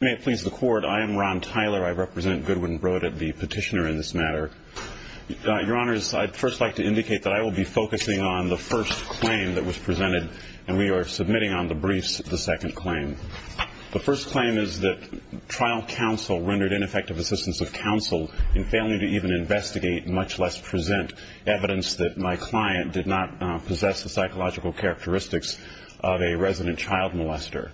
May it please the Court, I am Ron Tyler. I represent Goodwin Brodit, the petitioner in this matter. Your Honors, I'd first like to indicate that I will be focusing on the first claim that was presented, and we are submitting on the briefs the second claim. The first claim is that trial counsel rendered ineffective assistance of counsel in failing to even investigate, much less present, evidence that my client did not possess the psychological characteristics of a resident child molester.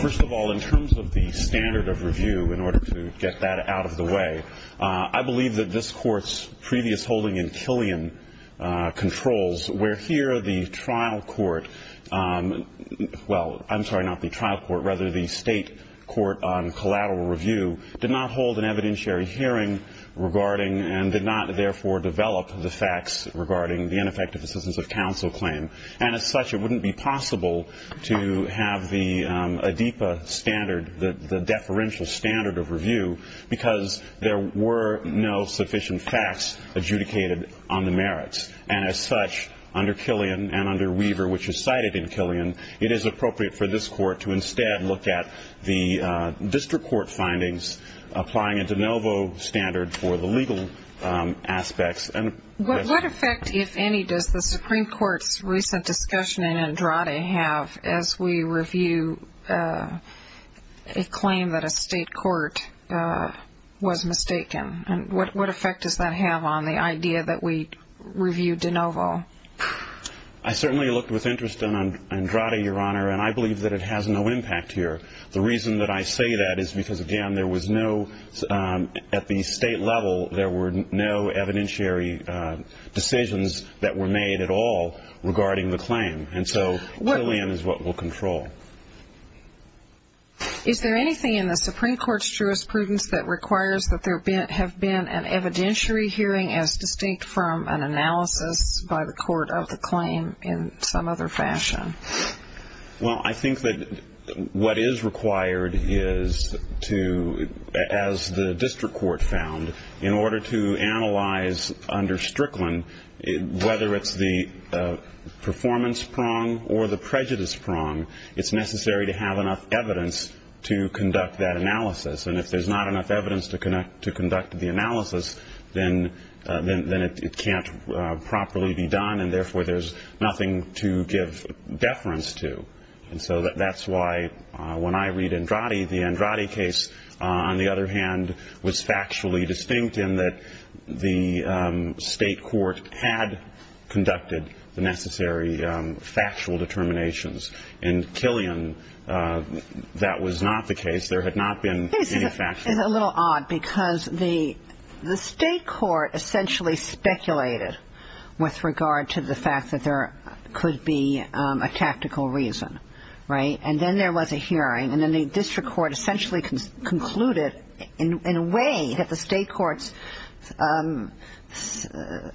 First of all, in terms of the standard of review, in order to get that out of the way, I believe that this Court's previous holding in Killian controls where here the trial court, well, I'm sorry, not the trial court, rather the state court on collateral review, did not hold an evidentiary hearing regarding and did not, therefore, develop the facts regarding the ineffective assistance of counsel claim. And as such, it wouldn't be possible to have the ADEPA standard, the deferential standard of review, because there were no sufficient facts adjudicated on the merits. And as such, under Killian and under Weaver, which is cited in Killian, it is appropriate for this Court to instead look at the district court findings, applying a de novo standard for the legal aspects. What effect, if any, does the Supreme Court's recent discussion in Andrade have as we review a claim that a state court was mistaken? And what effect does that have on the idea that we review de novo? I certainly looked with interest in Andrade, Your Honor, and I believe that it has no impact here. The reason that I say that is because, again, there was no, at the state level, there were no evidentiary decisions that were made at all regarding the claim. And so Killian is what will control. Is there anything in the Supreme Court's jurisprudence that requires that there have been an evidentiary hearing as distinct from an analysis by the court of the claim in some other fashion? Well, I think that what is required is to, as the district court found, in order to analyze under Strickland, whether it's the performance prong or the prejudice prong, it's necessary to have enough evidence to conduct that analysis. And if there's not enough evidence to conduct the analysis, then it can't properly be done, and therefore there's nothing to give deference to. And so that's why when I read Andrade, the Andrade case, on the other hand, was factually distinct in that the state court had conducted the necessary factual determinations. In Killian, that was not the case. There had not been any factual. It's a little odd because the state court essentially speculated with regard to the fact that there could be a tactical reason, right? And then there was a hearing, and then the district court essentially concluded in a way that the state court's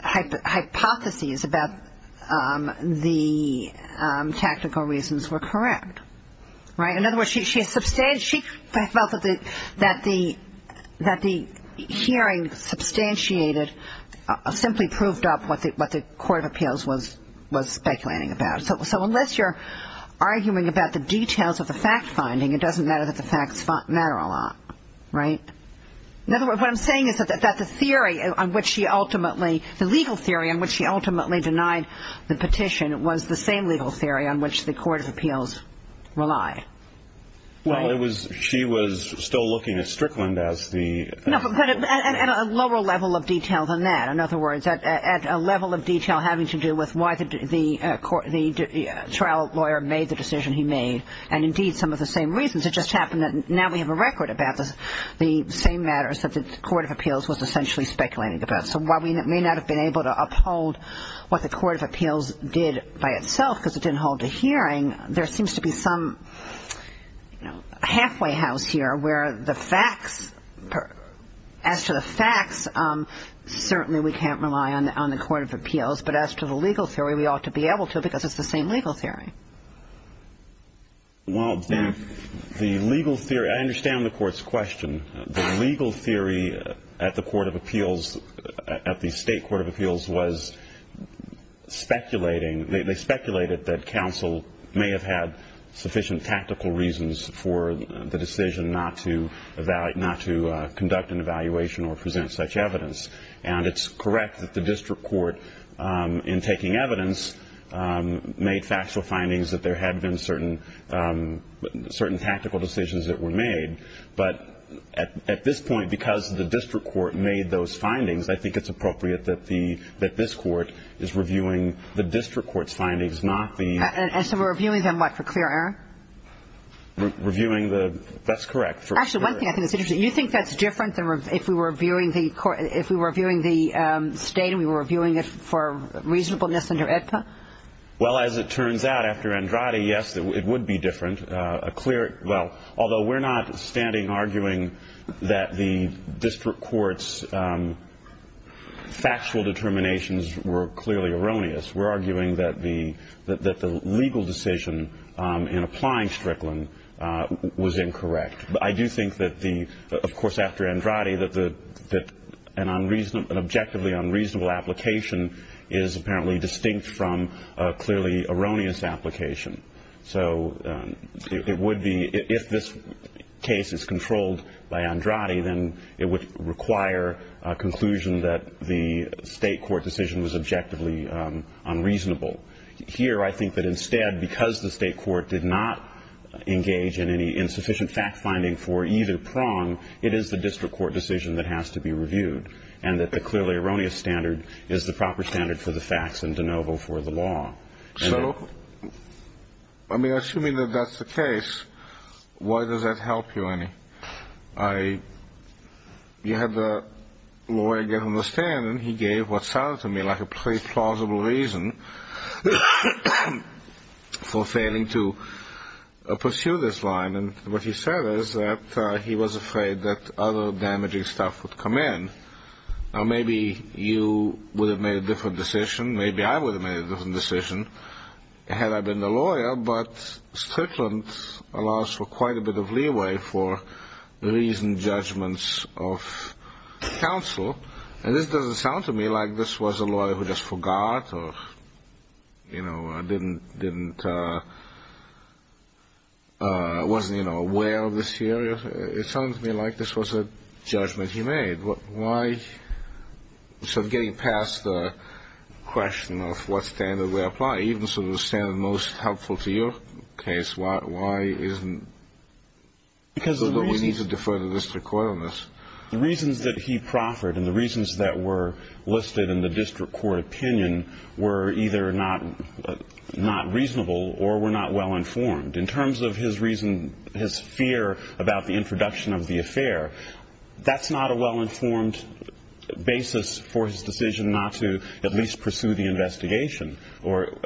hypotheses about the tactical reasons were correct, right? In other words, she felt that the hearing substantiated, simply proved up what the court of appeals was speculating about. So unless you're arguing about the details of the fact-finding, it doesn't matter that the facts matter a lot, right? In other words, what I'm saying is that the theory on which she ultimately, the legal theory on which she ultimately denied the petition was the same legal theory on which the court of appeals relied. Well, it was, she was still looking at Strickland as the. No, but at a lower level of detail than that. In other words, at a level of detail having to do with why the trial lawyer made the decision he made, and indeed some of the same reasons. It just happened that now we have a record about the same matters that the court of appeals was essentially speculating about. So while we may not have been able to uphold what the court of appeals did by itself because it didn't hold a hearing, there seems to be some halfway house here where the facts, as to the facts, certainly we can't rely on the court of appeals. But as to the legal theory, we ought to be able to because it's the same legal theory. Well, the legal theory, I understand the court's question. The legal theory at the court of appeals, at the state court of appeals was speculating, they speculated that counsel may have had sufficient tactical reasons for the decision not to conduct an evaluation or present such evidence. And it's correct that the district court, in taking evidence, made factual findings that there had been certain tactical decisions that were made. But at this point, because the district court made those findings, I think it's appropriate that this court is reviewing the district court's findings, not the – And so we're reviewing them what, for clear error? Reviewing the – that's correct. Actually, one thing I think is interesting. Do you think that's different if we were reviewing the state and we were reviewing it for reasonableness under AEDPA? Well, as it turns out, after Andrade, yes, it would be different. Well, although we're not standing arguing that the district court's factual determinations were clearly erroneous. We're arguing that the legal decision in applying Strickland was incorrect. But I do think that the – of course, after Andrade, that an objectively unreasonable application is apparently distinct from a clearly erroneous application. So it would be – if this case is controlled by Andrade, then it would require a conclusion that the state court decision was objectively unreasonable. Here, I think that instead, because the state court did not engage in any insufficient fact-finding for either prong, it is the district court decision that has to be reviewed and that the clearly erroneous standard is the proper standard for the facts and de novo for the law. So, I mean, assuming that that's the case, why does that help you, Annie? I – you had the lawyer get on the stand and he gave what sounded to me like a pretty plausible reason for failing to pursue this line. And what he said is that he was afraid that other damaging stuff would come in. Now, maybe you would have made a different decision. Maybe I would have made a different decision had I been the lawyer. But Strickland allows for quite a bit of leeway for reasoned judgments of counsel. And this doesn't sound to me like this was a lawyer who just forgot or, you know, didn't – wasn't, you know, aware of this here. It sounds to me like this was a judgment he made. Why – so getting past the question of what standard we apply, even sort of the standard most helpful to your case, why isn't – you need to defer to the district court on this. The reasons that he proffered and the reasons that were listed in the district court opinion were either not reasonable or were not well-informed. In terms of his reason – his fear about the introduction of the affair, that's not a well-informed basis for his decision not to at least pursue the investigation or –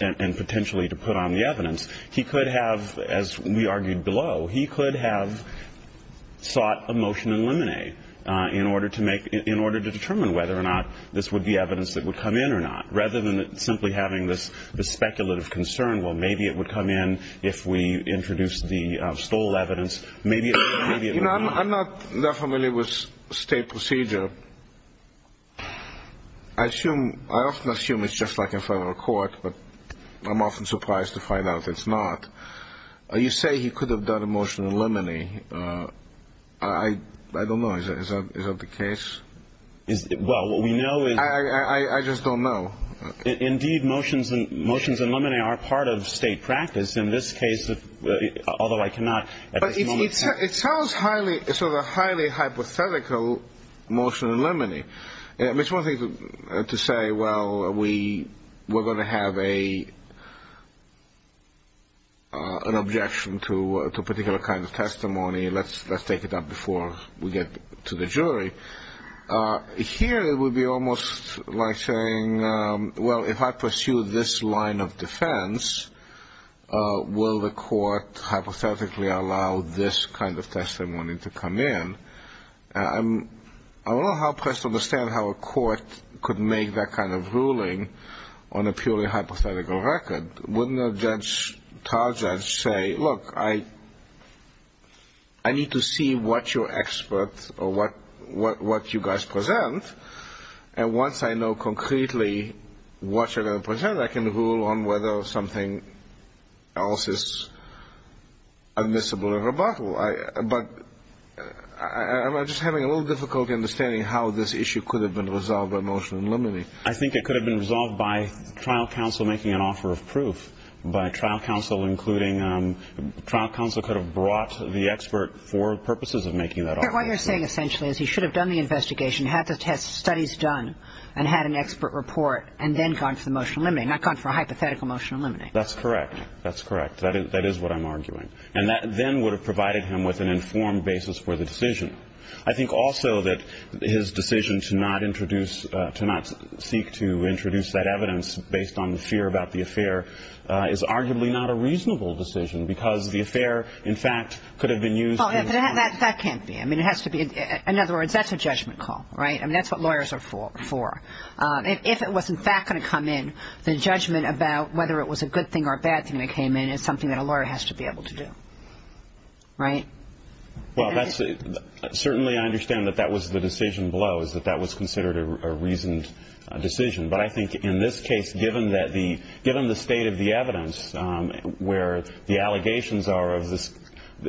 and potentially to put on the evidence. He could have, as we argued below, he could have sought a motion in limine in order to make – in order to determine whether or not this would be evidence that would come in or not, rather than simply having this speculative concern, well, maybe it would come in if we introduced the stole evidence. Maybe it would – maybe it would not. You know, I'm not that familiar with state procedure. I assume – I often assume it's just like in federal court, but I'm often surprised to find out it's not. You say he could have done a motion in limine. I don't know. Is that the case? Well, what we know is – I just don't know. Indeed, motions in limine are part of state practice. In this case, although I cannot at this moment – It sounds highly – sort of a highly hypothetical motion in limine. It's one thing to say, well, we're going to have an objection to a particular kind of testimony. Let's take it up before we get to the jury. Here it would be almost like saying, well, if I pursue this line of defense, will the court hypothetically allow this kind of testimony to come in? I don't know how pressed to understand how a court could make that kind of ruling on a purely hypothetical record. Wouldn't a judge, a charged judge, say, look, I need to see what your experts or what you guys present, and once I know concretely what you're going to present, I can rule on whether something else is admissible in rebuttal. But I'm just having a little difficulty understanding how this issue could have been resolved by motion in limine. I think it could have been resolved by trial counsel making an offer of proof, by trial counsel including – trial counsel could have brought the expert for purposes of making that offer. What you're saying essentially is he should have done the investigation, had the studies done, and had an expert report, and then gone for the motion in limine, not gone for a hypothetical motion in limine. That's correct. That's correct. That is what I'm arguing. And that then would have provided him with an informed basis for the decision. I think also that his decision to not introduce – to not seek to introduce that evidence based on the fear about the affair is arguably not a reasonable decision because the affair, in fact, could have been used – Well, that can't be. I mean, it has to be – in other words, that's a judgment call, right? I mean, that's what lawyers are for. If it was, in fact, going to come in, the judgment about whether it was a good thing or a bad thing that came in is something that a lawyer has to be able to do, right? Well, that's – certainly I understand that that was the decision below, is that that was considered a reasoned decision. But I think in this case, given that the – given the state of the evidence, where the allegations are of this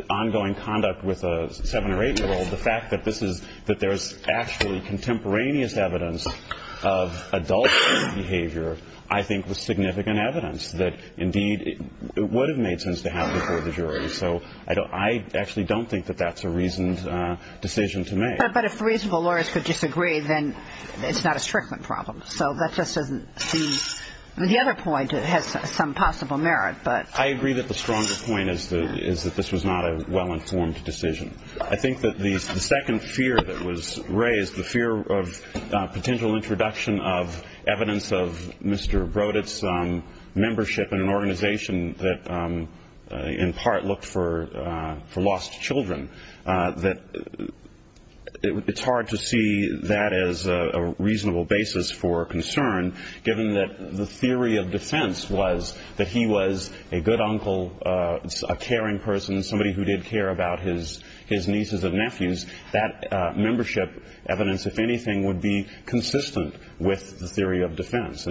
ongoing conduct with a 7- or 8-year-old, the fact that this is – that there is actually contemporaneous evidence of adult behavior, I think was significant evidence that, indeed, it would have made sense to have before the jury. So I actually don't think that that's a reasoned decision to make. But if reasonable lawyers could disagree, then it's not a Strickland problem. So that just doesn't seem – I mean, the other point has some possible merit, but – I agree that the stronger point is that this was not a well-informed decision. I think that the second fear that was raised, the fear of potential introduction of evidence of Mr. Broditz's membership in an organization that in part looked for lost children, that it's hard to see that as a reasonable basis for concern, given that the theory of defense was that he was a good uncle, a caring person, somebody who did care about his nieces and nephews. That membership evidence, if anything, would be consistent with the theory of defense.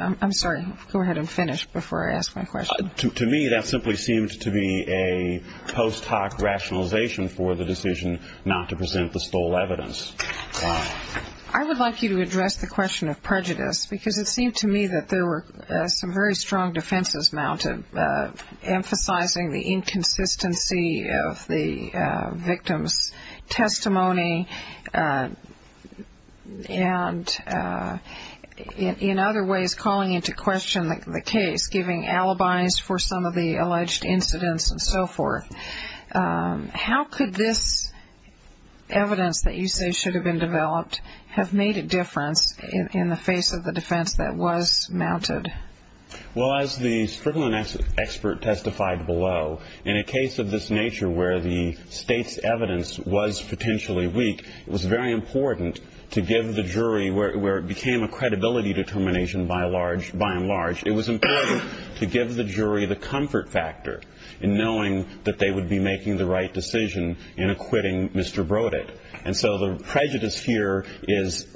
I'm sorry. Go ahead and finish before I ask my question. To me, that simply seemed to be a post-hoc rationalization for the decision not to present the stole evidence. I would like you to address the question of prejudice, because it seemed to me that there were some very strong defenses mounted, emphasizing the inconsistency of the victim's testimony and in other ways calling into question the case, giving alibis for some of the alleged incidents and so forth. How could this evidence that you say should have been developed have made a difference in the face of the defense that was mounted? Well, as the Strickland expert testified below, in a case of this nature where the state's evidence was potentially weak, it was very important to give the jury, where it became a credibility determination by and large, it was important to give the jury the comfort factor in knowing that they would be making the right decision in acquitting Mr. Broditz. And so the prejudice here is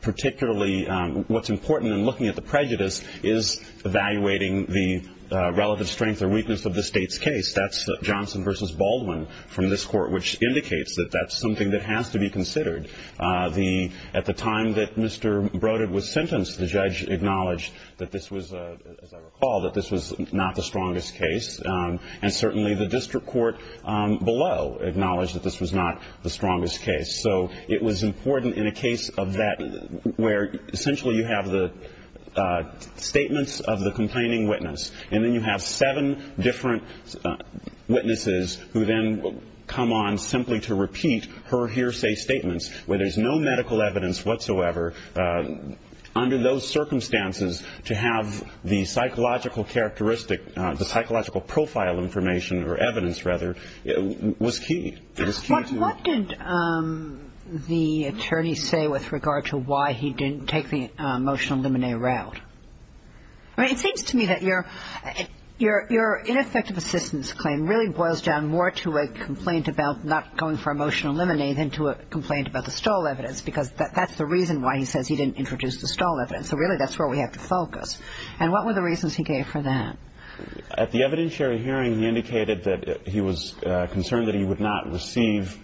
particularly, what's important in looking at the prejudice, is evaluating the relevant strength or weakness of the state's case. That's Johnson versus Baldwin from this court, which indicates that that's something that has to be considered. At the time that Mr. Broditz was sentenced, the judge acknowledged that this was, as I recall, that this was not the strongest case. And certainly the district court below acknowledged that this was not the strongest case. So it was important in a case of that, where essentially you have the statements of the complaining witness, and then you have seven different witnesses who then come on simply to repeat her hearsay statements, where there's no medical evidence whatsoever. Under those circumstances, to have the psychological profile information or evidence, rather, was key. What did the attorney say with regard to why he didn't take the emotional lemonade route? It seems to me that your ineffective assistance claim really boils down more to a complaint about not going for emotional lemonade than to a complaint about the stall evidence, because that's the reason why he says he didn't introduce the stall evidence. So really that's where we have to focus. And what were the reasons he gave for that? At the evidentiary hearing, he indicated that he was concerned that he would not receive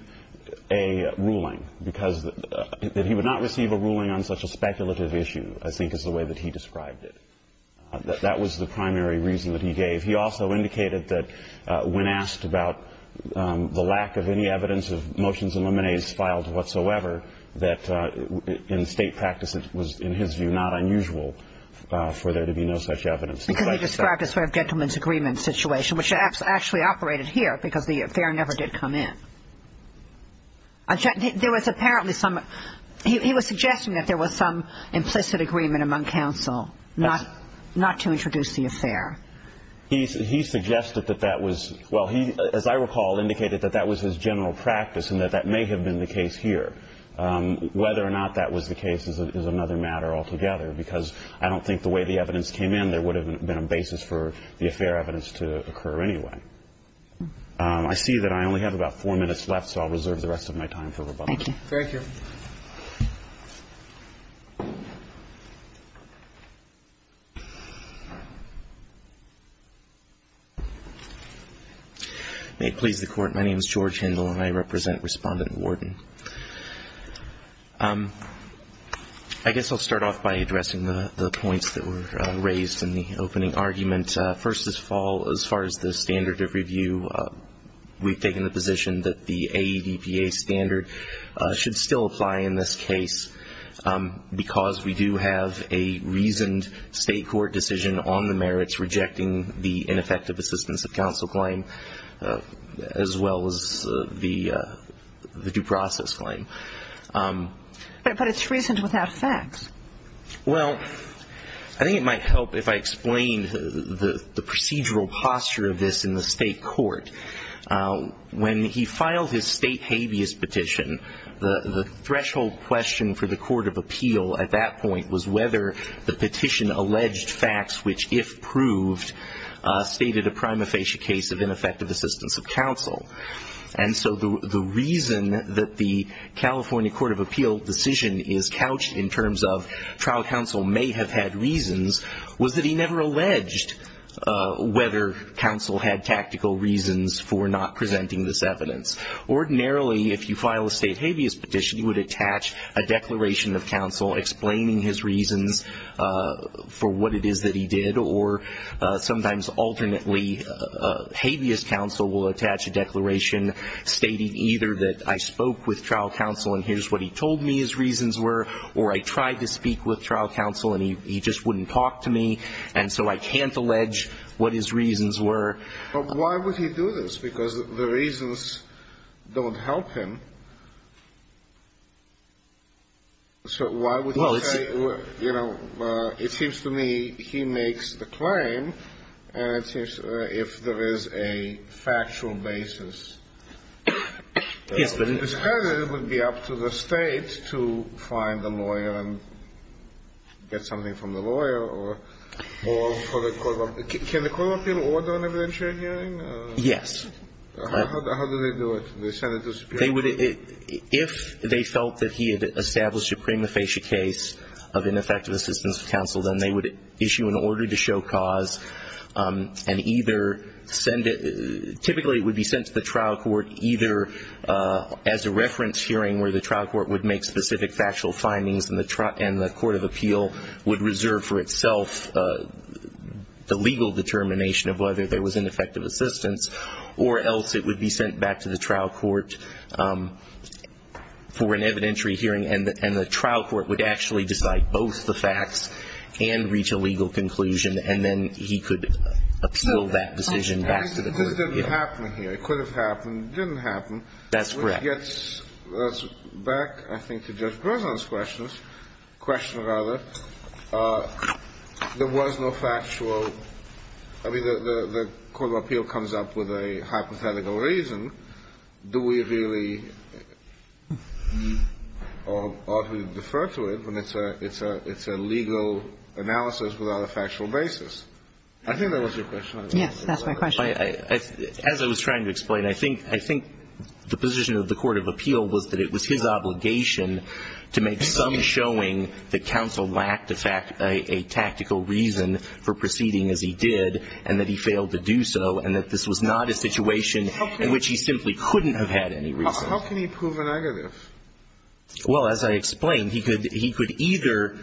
a ruling, because that he would not receive a ruling on such a speculative issue, I think is the way that he described it. That was the primary reason that he gave. He also indicated that when asked about the lack of any evidence of motions and lemonades filed whatsoever, that in state practice it was, in his view, not unusual for there to be no such evidence. Because he described a sort of gentleman's agreement situation, which actually operated here because the affair never did come in. There was apparently some – he was suggesting that there was some implicit agreement among counsel not to introduce the affair. He suggested that that was – well, he, as I recall, indicated that that was his general practice and that that may have been the case here. Whether or not that was the case is another matter altogether, because I don't think the way the evidence came in there would have been a basis for the affair evidence to occur anyway. I see that I only have about four minutes left, so I'll reserve the rest of my time for rebuttal. Thank you. Thank you. May it please the Court. My name is George Hindle, and I represent Respondent Worden. I guess I'll start off by addressing the points that were raised in the opening argument. First of all, as far as the standard of review, we've taken the position that the AEVPA standard should still apply in this case because we do have a reasoned state court decision on the merits rejecting the ineffective assistance of counsel claim, as well as the due process claim. But it's reasoned without facts. Well, I think it might help if I explained the procedural posture of this in the state court. When he filed his state habeas petition, the threshold question for the Court of Appeal at that point was whether the petition alleged facts, which if proved, stated a prima facie case of ineffective assistance of counsel. And so the reason that the California Court of Appeal decision is couched in terms of trial counsel may have had reasons was that he never alleged whether counsel had tactical reasons for not presenting this evidence. Ordinarily, if you file a state habeas petition, you would attach a declaration of counsel explaining his reasons for what it is that he did, or sometimes alternately, habeas counsel will attach a declaration stating either that I spoke with trial counsel and here's what he told me his reasons were, or I tried to speak with trial counsel and he just wouldn't talk to me, and so I can't allege what his reasons were. But why would he do this? Because the reasons don't help him. So why would he say, you know, it seems to me he makes the claim and it seems if there is a factual basis. Yes, but in this case it would be up to the State to find a lawyer and get something from the lawyer or for the Court of Appeal. Can the Court of Appeal order an evidentiary hearing? Yes. How do they do it? If they felt that he had established a prima facie case of ineffective assistance to counsel, then they would issue an order to show cause and either send it – typically it would be sent to the trial court either as a reference hearing where the trial court would make specific factual findings and the Court of Appeal would reserve for itself the legal determination of whether there was ineffective assistance, or else it would be sent back to the trial court for an evidentiary hearing and the trial court would actually decide both the facts and reach a legal conclusion and then he could appeal that decision back to the Court of Appeal. This didn't happen here. It could have happened. It didn't happen. That's correct. Which gets us back, I think, to Judge Breslin's question. In this case, the question is, if we are to make a legal decision, rather, there was no factual – I mean, the Court of Appeal comes up with a hypothetical reason. Do we really – or ought we to defer to it when it's a – it's a legal analysis without a factual basis? I think that was your question, I guess. Yes, that's my question. As I was trying to explain, I think – I think the position of the Court of Appeal was that it was his obligation to make some showing that counsel lacked a tactical reason for proceeding as he did and that he failed to do so and that this was not a situation in which he simply couldn't have had any reason. How can he prove a negative? Well, as I explained, he could either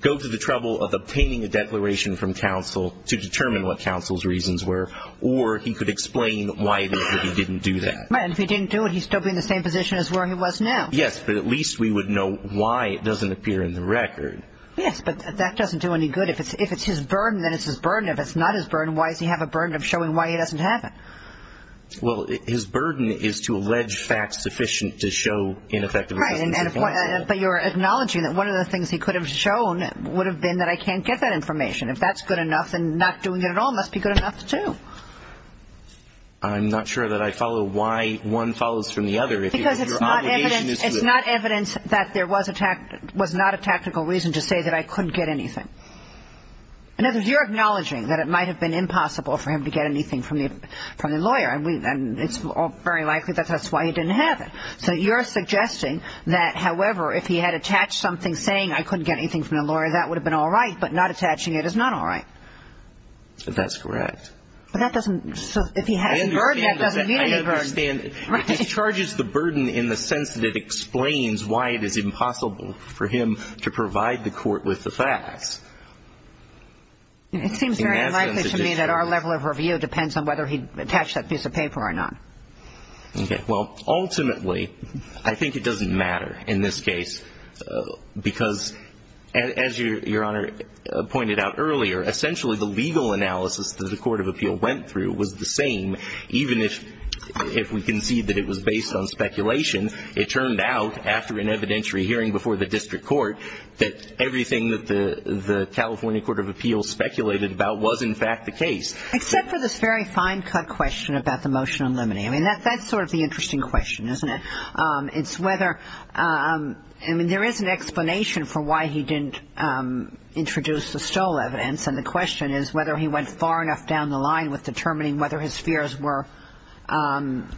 go to the trouble of obtaining a declaration from counsel to determine what counsel's reasons were, or he could explain why it is that he didn't do that. Right, and if he didn't do it, he'd still be in the same position as where he was now. Yes, but at least we would know why it doesn't appear in the record. Yes, but that doesn't do any good. If it's his burden, then it's his burden. If it's not his burden, why does he have a burden of showing why he doesn't have it? Well, his burden is to allege facts sufficient to show ineffective assistance to counsel. Right, but you're acknowledging that one of the things he could have shown would have been that I can't get that information. If that's good enough, then not doing it at all must be good enough, too. I'm not sure that I follow why one follows from the other. Because it's not evidence that there was not a tactical reason to say that I couldn't get anything. In other words, you're acknowledging that it might have been impossible for him to get anything from the lawyer, and it's very likely that that's why he didn't have it. So you're suggesting that, however, if he had attached something saying I couldn't get anything from the lawyer, that would have been all right, but not attaching it is not all right. That's correct. But that doesn't – so if he had the burden, that doesn't mean any burden. I understand. Right. It discharges the burden in the sense that it explains why it is impossible for him to provide the court with the facts. It seems very likely to me that our level of review depends on whether he attached that piece of paper or not. Okay. Well, ultimately, I think it doesn't matter in this case because, as Your Honor pointed out earlier, essentially the legal analysis that the court of appeal went through was the same, even if we concede that it was based on speculation. It turned out, after an evidentiary hearing before the district court, that everything that the California Court of Appeals speculated about was, in fact, the case. Except for this very fine-cut question about the motion on limine. I mean, that's sort of the interesting question, isn't it? I mean, there is an explanation for why he didn't introduce the stole evidence, and the question is whether he went far enough down the line with determining whether his fears were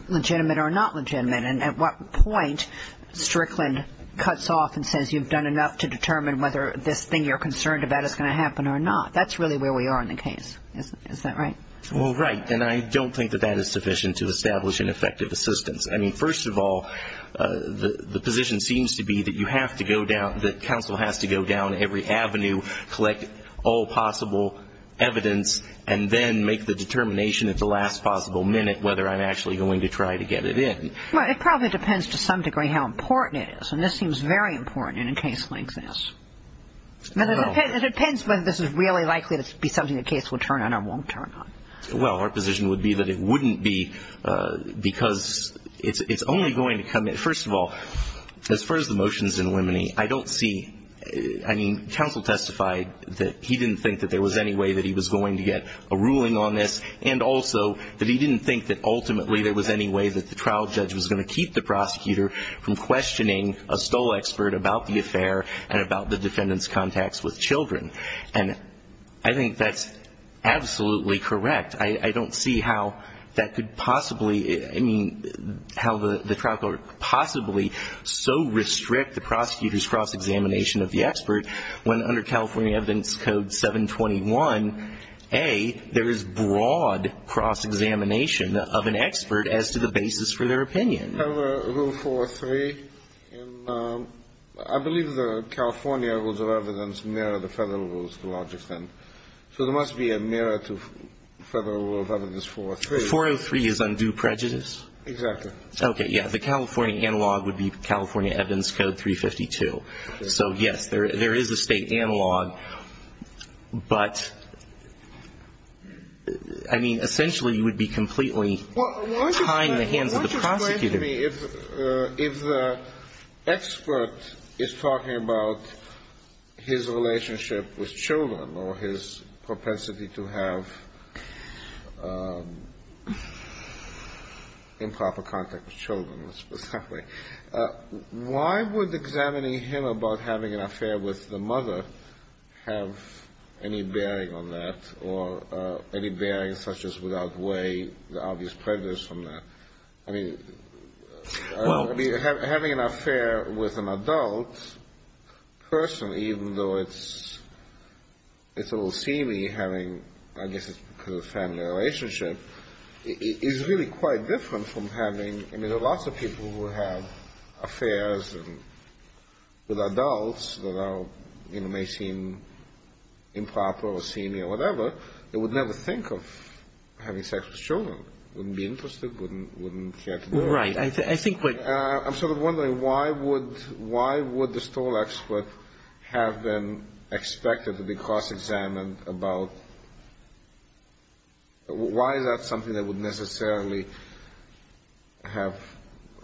legitimate or not legitimate. And at what point Strickland cuts off and says, you've done enough to determine whether this thing you're concerned about is going to happen or not. That's really where we are in the case. Is that right? Well, right. And I don't think that that is sufficient to establish an effective assistance. I mean, first of all, the position seems to be that you have to go down, that counsel has to go down every avenue, collect all possible evidence, and then make the determination at the last possible minute whether I'm actually going to try to get it in. Well, it probably depends to some degree how important it is. And this seems very important in a case like this. It depends whether this is really likely to be something the case will turn on or won't turn on. Well, our position would be that it wouldn't be, because it's only going to come in. First of all, as far as the motions in limine, I don't see, I mean, counsel testified that he didn't think that there was any way that he was going to get a ruling on this, and also that he didn't think that ultimately there was any way that the trial judge was going to keep the prosecutor from questioning a stole expert about the affair and about the defendant's contacts with children. And I think that's absolutely correct. I don't see how that could possibly, I mean, how the trial court could possibly so restrict the prosecutor's cross-examination of the expert when, under California Evidence Code 721a, there is broad cross-examination of an expert as to the basis for their opinion. Under Federal Rule 403, I believe the California Rules of Evidence mirror the Federal Rules to a large extent. So there must be a mirror to Federal Rule of Evidence 403. 403 is undue prejudice? Exactly. Okay, yeah. The California analog would be California Evidence Code 352. So, yes, there is a state analog, but, I mean, essentially you would be completely tying the hands of the prosecutor. Excuse me. If the expert is talking about his relationship with children or his propensity to have improper contact with children, let's put it that way, why would examining him about having an affair with the mother have any bearing on that or any bearing such as without way, the obvious prejudice from that? I mean, having an affair with an adult person, even though it's a little seamy, having, I guess it's because of family relationship, is really quite different from having, I mean, there are lots of people who have affairs with adults that are, you know, may seem improper or seamy or whatever that would never think of having sex with children. Wouldn't be interested, wouldn't care to know. Right. I think what — I'm sort of wondering, why would the stole expert have been expected to be cross-examined about — why is that something that would necessarily have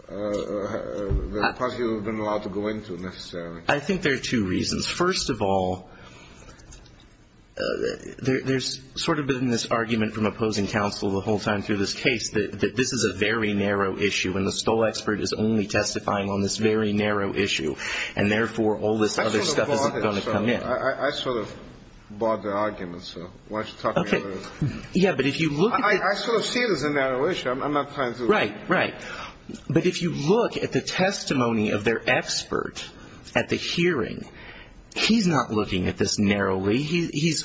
the prosecutor been allowed to go into necessarily? I think there are two reasons. First of all, there's sort of been this argument from opposing counsel the whole time through this case that this is a very narrow issue and the stole expert is only testifying on this very narrow issue, and therefore, all this other stuff isn't going to come in. I sort of bought it. I sort of bought the argument, so why don't you talk about it? Okay. Yeah, but if you look at the — I sort of see it as a narrow issue. I'm not trying to — Right, right. But if you look at the testimony of their expert at the hearing, he's not looking at this narrowly. He's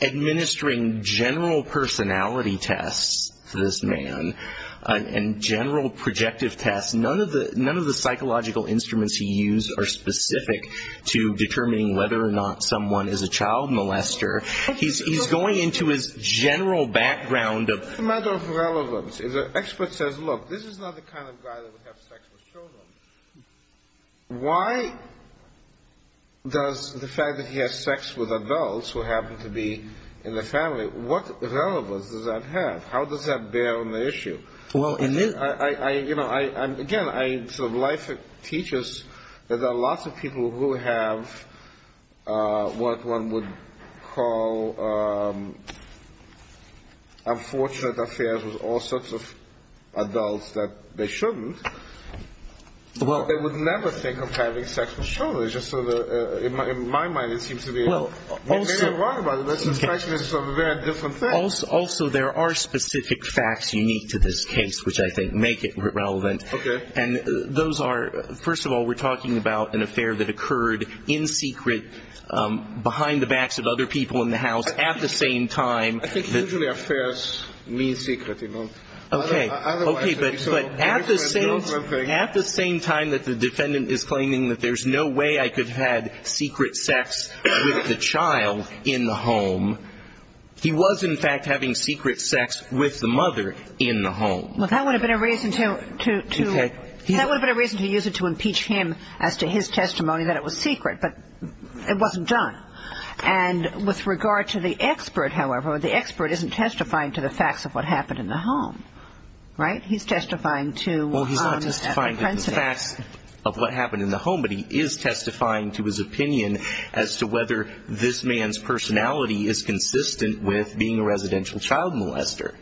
administering general personality tests to this man and general projective tests. None of the psychological instruments he used are specific to determining whether or not someone is a child molester. He's going into his general background of — If the expert says, look, this is not the kind of guy that would have sex with children, why does the fact that he has sex with adults who happen to be in the family, what relevance does that have? How does that bear on the issue? Well, in this — Again, life teaches that there are lots of people who have what one would call unfortunate affairs with all sorts of adults that they shouldn't, but they would never think of having sex with children. It's just sort of — in my mind, it seems to be — Well, also — It's very wrong, by the way. This is actually sort of a very different thing. Also, there are specific facts unique to this case which I think make it relevant. Okay. And those are — first of all, we're talking about an affair that occurred in secret, behind the backs of other people in the house, at the same time — I think usually affairs mean secret, you know. Okay. Otherwise, it would be so different. At the same time that the defendant is claiming that there's no way I could have had secret sex with the child in the home, he was, in fact, having secret sex with the mother in the home. Well, that would have been a reason to — Okay. That would have been a reason to use it to impeach him as to his testimony that it was secret, but it wasn't done. And with regard to the expert, however, the expert isn't testifying to the facts of what happened in the home, right? He's testifying to — Well, he's not testifying to the facts of what happened in the home, but he is testifying to his opinion as to whether this man's personality is consistent with being a residential child molester.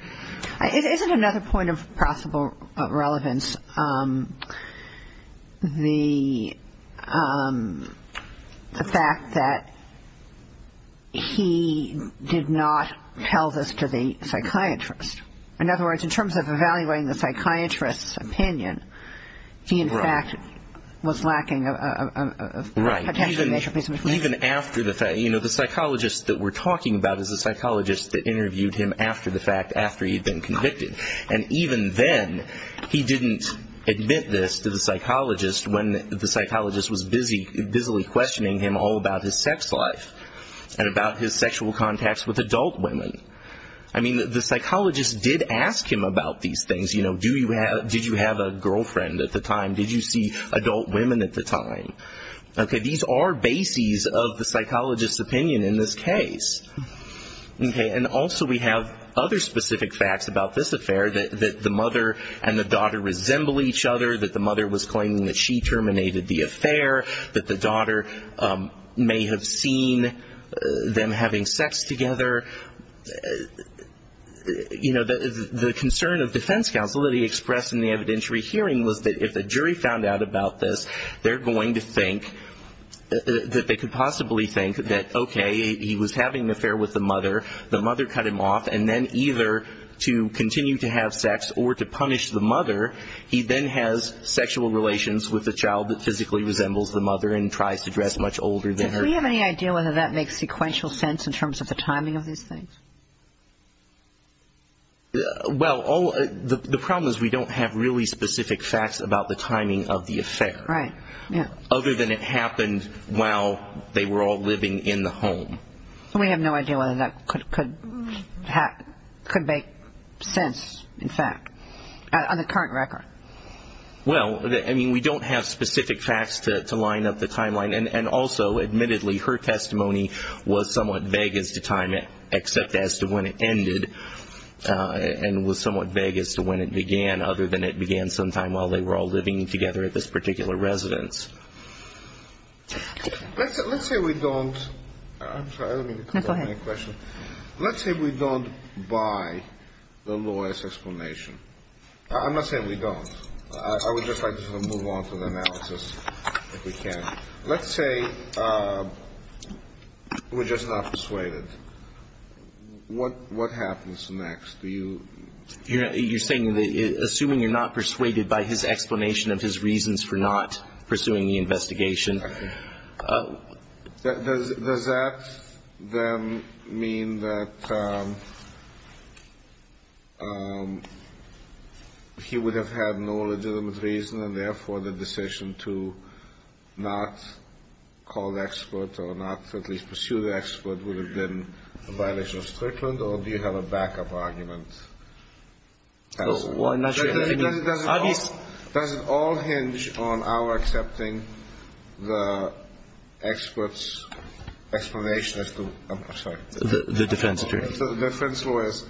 Isn't another point of possible relevance the fact that he did not tell this to the psychiatrist? In other words, in terms of evaluating the psychiatrist's opinion, he, in fact, was lacking a — Right. Even after the fact. You know, the psychologist that we're talking about is the psychologist that interviewed him after the fact, after he'd been convicted. And even then, he didn't admit this to the psychologist when the psychologist was busily questioning him all about his sex life and about his sexual contacts with adult women. I mean, the psychologist did ask him about these things. You know, did you have a girlfriend at the time? Did you see adult women at the time? Okay. These are bases of the psychologist's opinion in this case. Okay. And also, we have other specific facts about this affair, that the mother and the daughter resemble each other, that the mother was claiming that she terminated the affair, that the daughter may have seen them having sex together. You know, the concern of defense counsel that he expressed in the evidentiary hearing was that if the jury found out about this, they're going to think that they could possibly think that, okay, he was having an affair with the mother, the mother cut him off, and then either to continue to have sex or to punish the mother, he then has sexual relations with the child that physically resembles the mother and tries to dress much older than her. Do we have any idea whether that makes sequential sense in terms of the timing of these things? Well, the problem is we don't have really specific facts about the timing of the affair. Right. Other than it happened while they were all living in the home. We have no idea whether that could make sense, in fact. On the current record. Well, I mean, we don't have specific facts to line up the timeline. And also, admittedly, her testimony was somewhat vague as to time, except as to when it ended, and was somewhat vague as to when it began, other than it began sometime while they were all living together at this particular residence. Let's say we don't. I'm sorry. Go ahead. Let's say we don't buy the lawyer's explanation. I'm not saying we don't. I would just like to sort of move on to the analysis, if we can. Let's say we're just not persuaded. What happens next? Do you? You're saying that assuming you're not persuaded by his explanation of his reasons for not pursuing the investigation. Does that then mean that he would have had no legitimate reason, and therefore the decision to not call the expert or not at least pursue the expert would have been a violation of Strickland, or do you have a backup argument? I'm not sure. Does it all hinge on our accepting the expert's explanation as to the defense lawyer's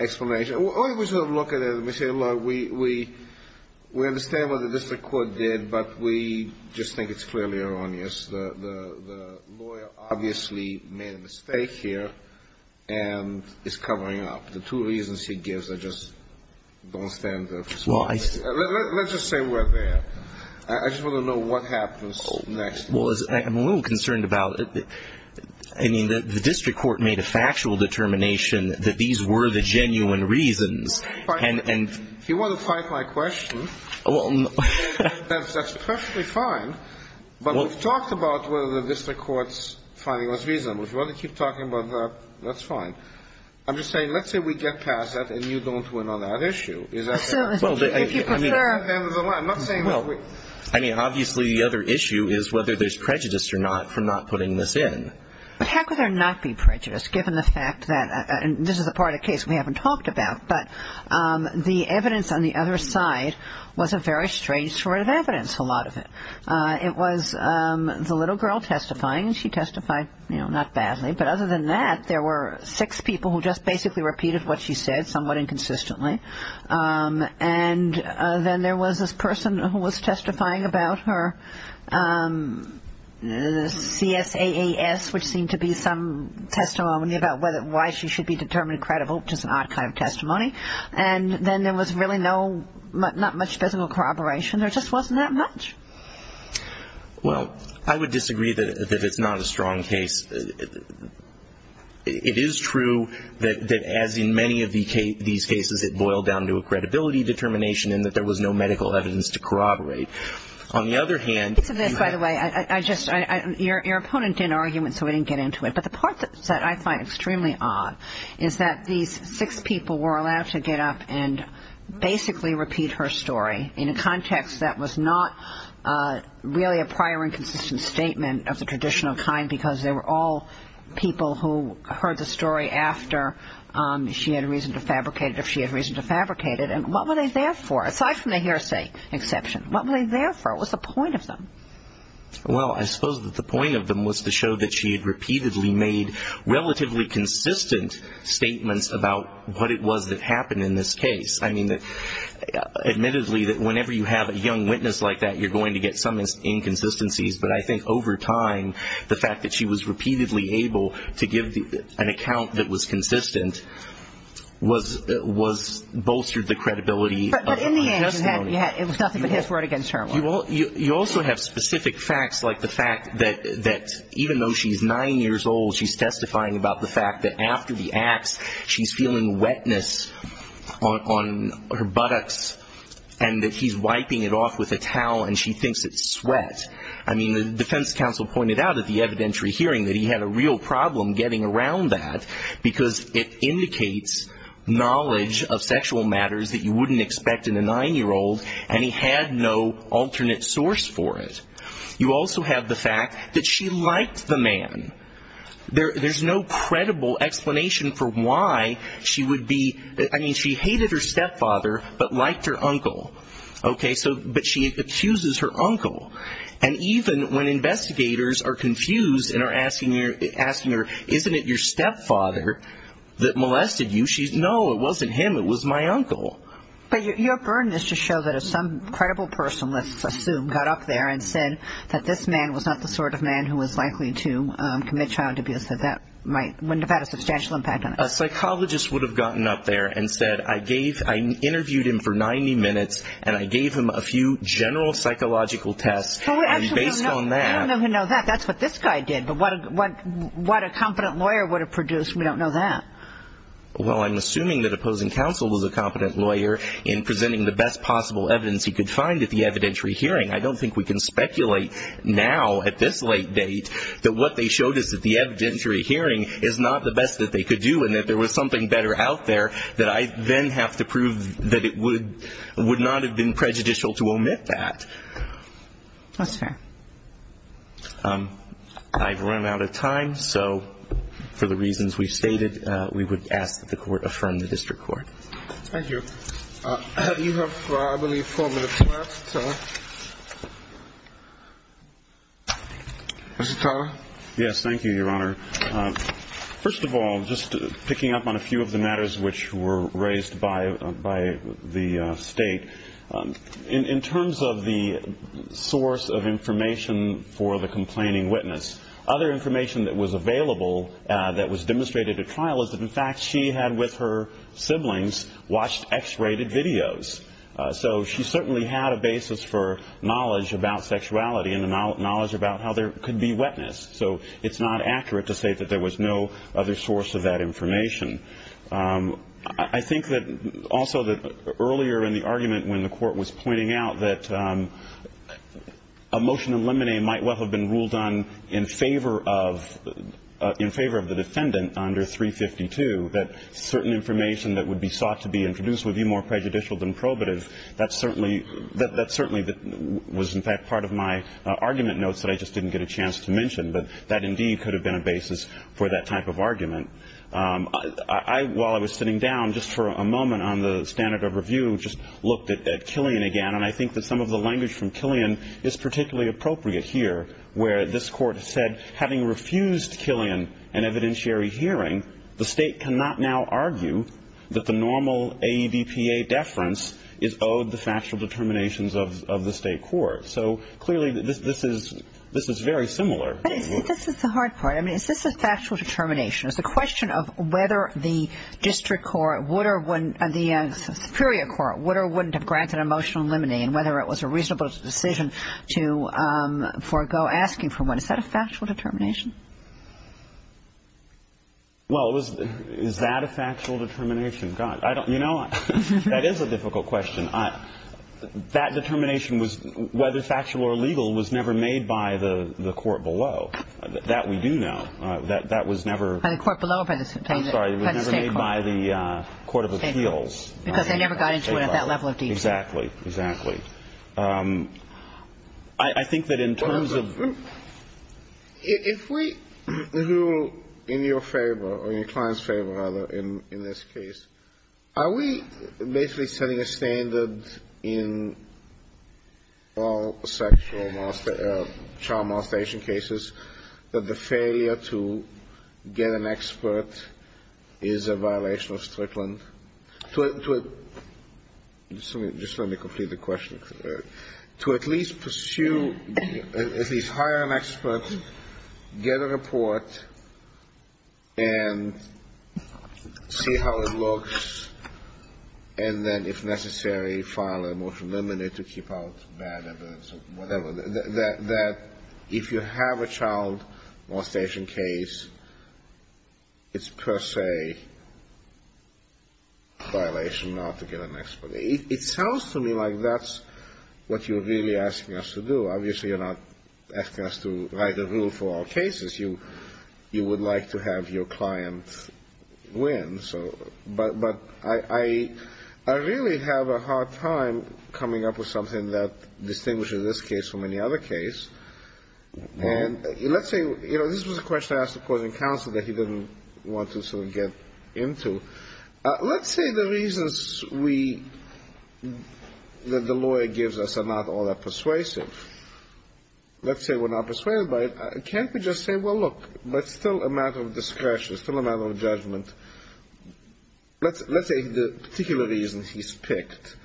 explanation? We sort of look at it and we say, look, we understand what the district court did, but we just think it's clearly erroneous. The lawyer obviously made a mistake here and is covering up. The two reasons he gives are just don't stand up. Let's just say we're there. I just want to know what happens next. Well, I'm a little concerned about it. I mean, the district court made a factual determination that these were the genuine reasons. If you want to fight my question, that's perfectly fine. But we've talked about whether the district court's finding was reasonable. If you want to keep talking about that, that's fine. I'm just saying let's say we get past that and you don't win on that issue. Is that fair? If you prefer, I'm not saying we're going to win. I mean, obviously the other issue is whether there's prejudice or not for not putting this in. But how could there not be prejudice given the fact that this is a part of the case we haven't talked about, but the evidence on the other side was a very strange sort of evidence, a lot of it. It was the little girl testifying, and she testified, you know, not badly. But other than that, there were six people who just basically repeated what she said somewhat inconsistently. And then there was this person who was testifying about her CSAAS, which seemed to be some testimony about why she should be determined credible, which is an odd kind of testimony. And then there was really not much physical corroboration. There just wasn't that much. Well, I would disagree that it's not a strong case. It is true that as in many of these cases, it boiled down to a credibility determination and that there was no medical evidence to corroborate. On the other hand ñ By the way, I just ñ your opponent did an argument, so we didn't get into it. But the part that I find extremely odd is that these six people were allowed to get up and basically repeat her story in a context that was not really a prior inconsistent statement of the traditional kind, because they were all people who heard the story after she had reason to fabricate it, if she had reason to fabricate it. And what were they there for, aside from the hearsay exception? What were they there for? What was the point of them? Well, I suppose that the point of them was to show that she had repeatedly made relatively consistent statements about what it was that happened in this case. I mean, admittedly, that whenever you have a young witness like that, you're going to get some inconsistencies. But I think over time, the fact that she was repeatedly able to give an account that was consistent was ñ bolstered the credibility of the testimony. But in the end, it was nothing but his word against her word. You also have specific facts, like the fact that even though she's nine years old, she's testifying about the fact that after the acts, she's feeling wetness on her buttocks, and that he's wiping it off with a towel, and she thinks it's sweat. I mean, the defense counsel pointed out at the evidentiary hearing that he had a real problem getting around that, because it indicates knowledge of sexual matters that you wouldn't expect in a nine-year-old, and he had no alternate source for it. You also have the fact that she liked the man. There's no credible explanation for why she would be ñ I mean, she hated her stepfather but liked her uncle. Okay? But she accuses her uncle. And even when investigators are confused and are asking her, isn't it your stepfather that molested you, she's, no, it wasn't him, it was my uncle. But your burden is to show that if some credible person, let's assume, got up there and said that this man was not the sort of man who was likely to commit child abuse, that that might ñ wouldn't have had a substantial impact on it. A psychologist would have gotten up there and said, I gave ñ I interviewed him for 90 minutes, and I gave him a few general psychological tests, and based on that ñ Well, we actually don't know. We don't know who did that. That's what this guy did. But what a competent lawyer would have produced, we don't know that. Well, I'm assuming that opposing counsel was a competent lawyer in presenting the best possible evidence he could find at the evidentiary hearing. I don't think we can speculate now, at this late date, that what they showed us at the evidentiary hearing is not the best that they could do and that there was something better out there that I then have to prove that it would not have been prejudicial to omit that. That's fair. I've run out of time, so for the reasons we've stated, we would ask that the Court affirm the District Court. Thank you. You have, I believe, four minutes left. Mr. Turner? Yes, thank you, Your Honor. First of all, just picking up on a few of the matters which were raised by the State, in terms of the source of information for the complaining witness, other information that was available that was demonstrated at trial is that, in fact, she had, with her siblings, watched X-rated videos. So she certainly had a basis for knowledge about sexuality and the knowledge about how there could be wetness. So it's not accurate to say that there was no other source of that information. I think that also that earlier in the argument when the Court was pointing out that a motion to eliminate might well have been ruled in favor of the defendant under 352, that certain information that would be sought to be introduced would be more prejudicial than probative. That certainly was, in fact, part of my argument notes that I just didn't get a chance to mention. But that, indeed, could have been a basis for that type of argument. While I was sitting down just for a moment on the standard of review, just looked at Killian again, and I think that some of the language from Killian is particularly appropriate here, where this Court said, having refused Killian an evidentiary hearing, the State cannot now argue that the normal AEDPA deference is owed the factual determinations of the State court. So, clearly, this is very similar. But this is the hard part. I mean, is this a factual determination? It's a question of whether the district court would or wouldn't, the superior court would or wouldn't have granted an emotional limiting and whether it was a reasonable decision to forego asking for one. Is that a factual determination? Well, is that a factual determination? God, I don't, you know, that is a difficult question. That determination was, whether factual or legal, was never made by the Court below. That we do know. That was never. By the Court below or by the State court? I'm sorry. It was never made by the Court of Appeals. Because they never got into it at that level of detail. Exactly. Exactly. I think that in terms of. If we rule in your favor, or in your client's favor, rather, in this case, are we basically setting a standard in all sexual, child molestation cases, that the failure to get an expert is a violation of Strickland? Just let me complete the question. To at least pursue, at least hire an expert, get a report, and see how it looks, and then, if necessary, file a motion to eliminate to keep out bad evidence or whatever. That if you have a child molestation case, it's per se a violation not to get an expert. It sounds to me like that's what you're really asking us to do. Obviously, you're not asking us to write a rule for all cases. You would like to have your client win. But I really have a hard time coming up with something that distinguishes this case from any other case. And let's say, you know, this was a question I asked the Court of Counsel that he didn't want to sort of get into. Let's say the reasons we, that the lawyer gives us are not all that persuasive. Let's say we're not persuaded by it. And can't we just say, well, look, that's still a matter of discretion, still a matter of judgment. Let's say the particular reasons he's picked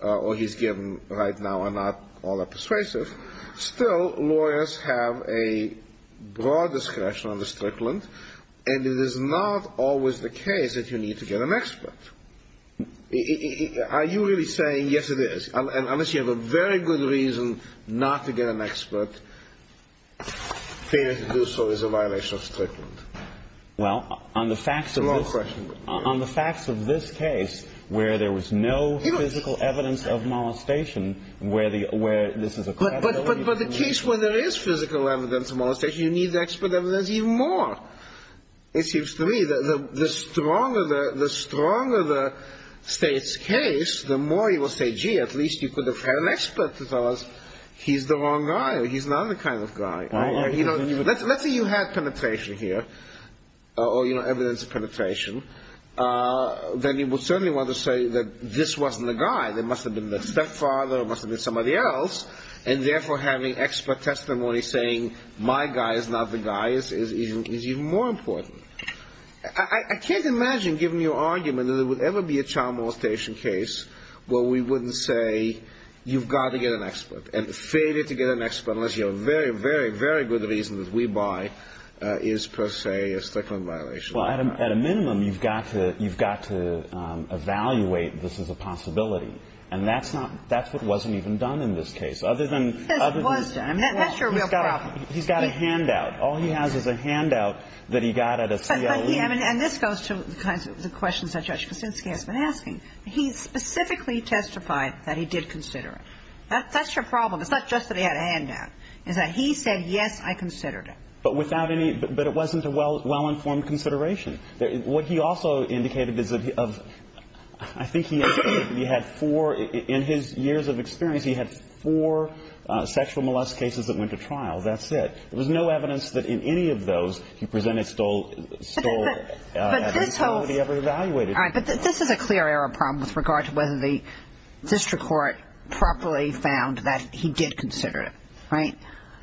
or he's given right now are not all that persuasive. Still, lawyers have a broad discretion under Strickland, and it is not always the case that you need to get an expert. Are you really saying, yes, it is, unless you have a very good reason not to get an expert. You're saying that to do so is a violation of Strickland. Well, on the facts of this case, where there was no physical evidence of molestation, where the, where this is a... But the case where there is physical evidence of molestation, you need the expert evidence even more. It seems to me that the stronger the State's case, the more you will say, gee, at least you could have had an expert to tell us he's the wrong guy or he's not the kind of guy. Let's say you had penetration here, or evidence of penetration, then you would certainly want to say that this wasn't the guy. It must have been the stepfather, it must have been somebody else, and therefore having expert testimony saying my guy is not the guy is even more important. I can't imagine, given your argument, that there would ever be a child molestation case where we wouldn't say, you've got to get an expert, and failure to get an expert, unless you have a very, very, very good reason that we buy, is per se a Strickland violation. Well, at a minimum, you've got to, you've got to evaluate this as a possibility. And that's not, that's what wasn't even done in this case. Other than... This was done. That's your real problem. He's got a handout. All he has is a handout that he got at a CLE. And this goes to the kinds of questions that Judge Kuczynski has been asking. He specifically testified that he did consider it. That's your problem. It's not just that he had a handout. It's that he said, yes, I considered it. But without any, but it wasn't a well-informed consideration. What he also indicated is that he, of, I think he had four, in his years of experience, he had four sexual molest cases that went to trial. That's it. There was no evidence that in any of those he presented, stole, stole... But this whole... Right?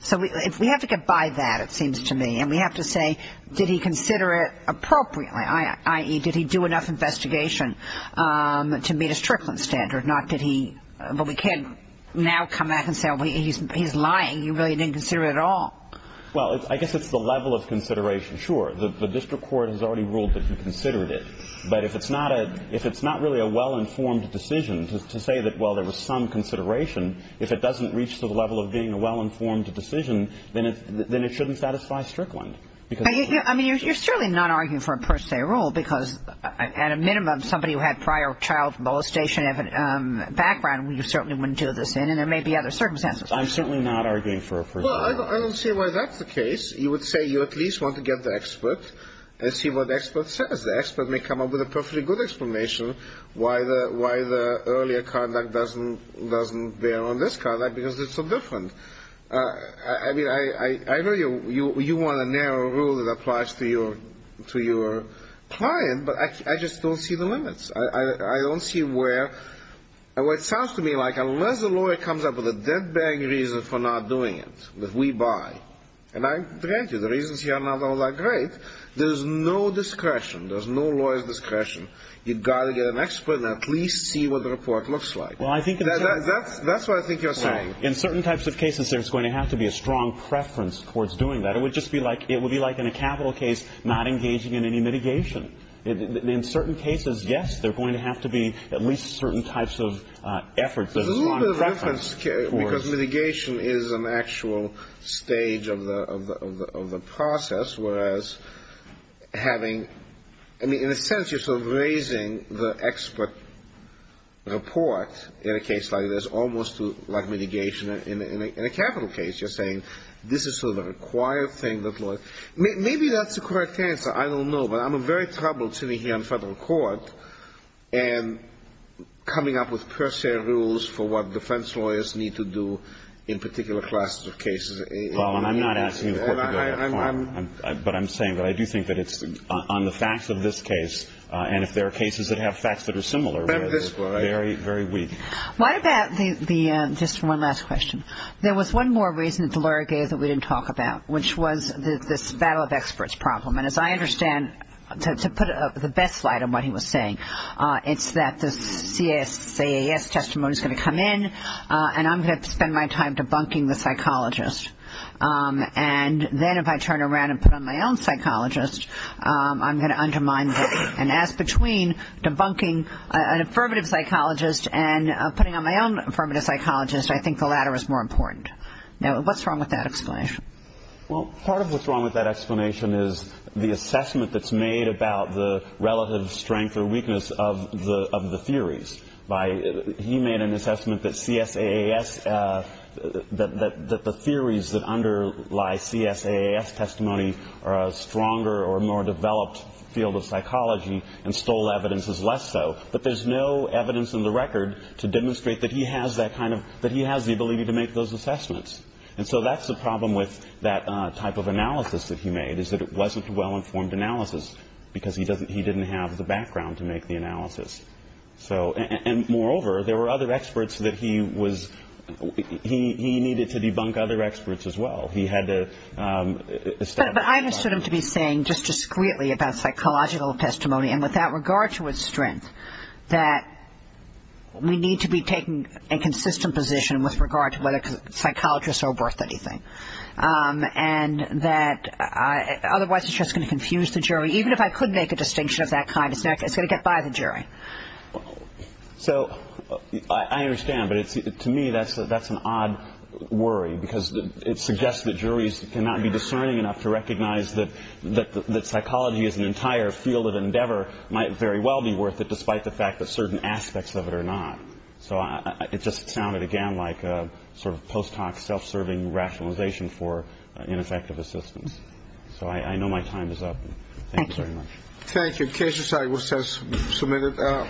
So we have to get by that, it seems to me. And we have to say, did he consider it appropriately, i.e., did he do enough investigation to meet his trickling standard, not did he... But we can't now come back and say, oh, he's lying. He really didn't consider it at all. Well, I guess it's the level of consideration. Sure, the district court has already ruled that he considered it. But if it's not really a well-informed decision to say that, well, there was some consideration, if it doesn't reach to the level of being a well-informed decision, then it shouldn't satisfy Strickland. I mean, you're certainly not arguing for a per se rule because, at a minimum, somebody who had prior child molestation background, you certainly wouldn't do this in, and there may be other circumstances. I'm certainly not arguing for a per se rule. Well, I don't see why that's the case. You would say you at least want to get the expert and see what the expert says. The expert may come up with a perfectly good explanation why the earlier conduct doesn't bear on this conduct because it's so different. I mean, I know you want a narrow rule that applies to your client, but I just don't see the limits. I don't see where... Well, it sounds to me like unless a lawyer comes up with a dead-banging reason for not doing it, that we buy, and I grant you the reasons here are not all that great. There's no discretion. There's no lawyer's discretion. You've got to get an expert and at least see what the report looks like. That's what I think you're saying. In certain types of cases, there's going to have to be a strong preference towards doing that. It would just be like in a capital case not engaging in any mitigation. In certain cases, yes, there are going to have to be at least certain types of efforts. There's a little bit of reference because mitigation is an actual stage of the process, whereas having... I mean, in a sense, you're sort of raising the expert report in a case like this almost like mitigation. In a capital case, you're saying this is sort of a required thing that lawyers... Maybe that's a correct answer. I don't know. But I'm in very trouble sitting here in federal court and coming up with per se rules for what defense lawyers need to do in particular classes of cases. Well, I'm not asking the court to go to that point, but I'm saying that I do think that it's on the facts of this case and if there are cases that have facts that are similar, very weak. Why about the ‑‑ just one last question. There was one more reason that the lawyer gave that we didn't talk about, which was this battle of experts problem. And as I understand, to put the best light on what he was saying, it's that the CAS testimony is going to come in and I'm going to have to spend my time debunking the psychologist. And then if I turn around and put on my own psychologist, I'm going to undermine that. And as between debunking an affirmative psychologist and putting on my own affirmative psychologist, I think the latter is more important. Now, what's wrong with that explanation? The assessment that's made about the relative strength or weakness of the theories. He made an assessment that the theories that underlie CSAAS testimony are a stronger or more developed field of psychology and stole evidence is less so. But there's no evidence in the record to demonstrate that he has the ability to make those assessments. And so that's the problem with that type of analysis that he made is that it wasn't a well‑informed analysis because he didn't have the background to make the analysis. And moreover, there were other experts that he was ‑‑ he needed to debunk other experts as well. He had to establish ‑‑ But I understood him to be saying just discreetly about psychological testimony and without regard to its strength, that we need to be taking a consistent position with regard to whether psychologists are worth anything. And that otherwise it's just going to confuse the jury. Even if I could make a distinction of that kind, it's going to get by the jury. So I understand. But to me, that's an odd worry because it suggests that juries cannot be discerning enough to recognize that psychology as an entire field of endeavor might very well be worth it, despite the fact that certain aspects of it are not. So it just sounded, again, like a sort of post‑hoc self‑serving rationalization for ineffective assistance. So I know my time is up. Thank you very much. Thank you. Cases are submitted.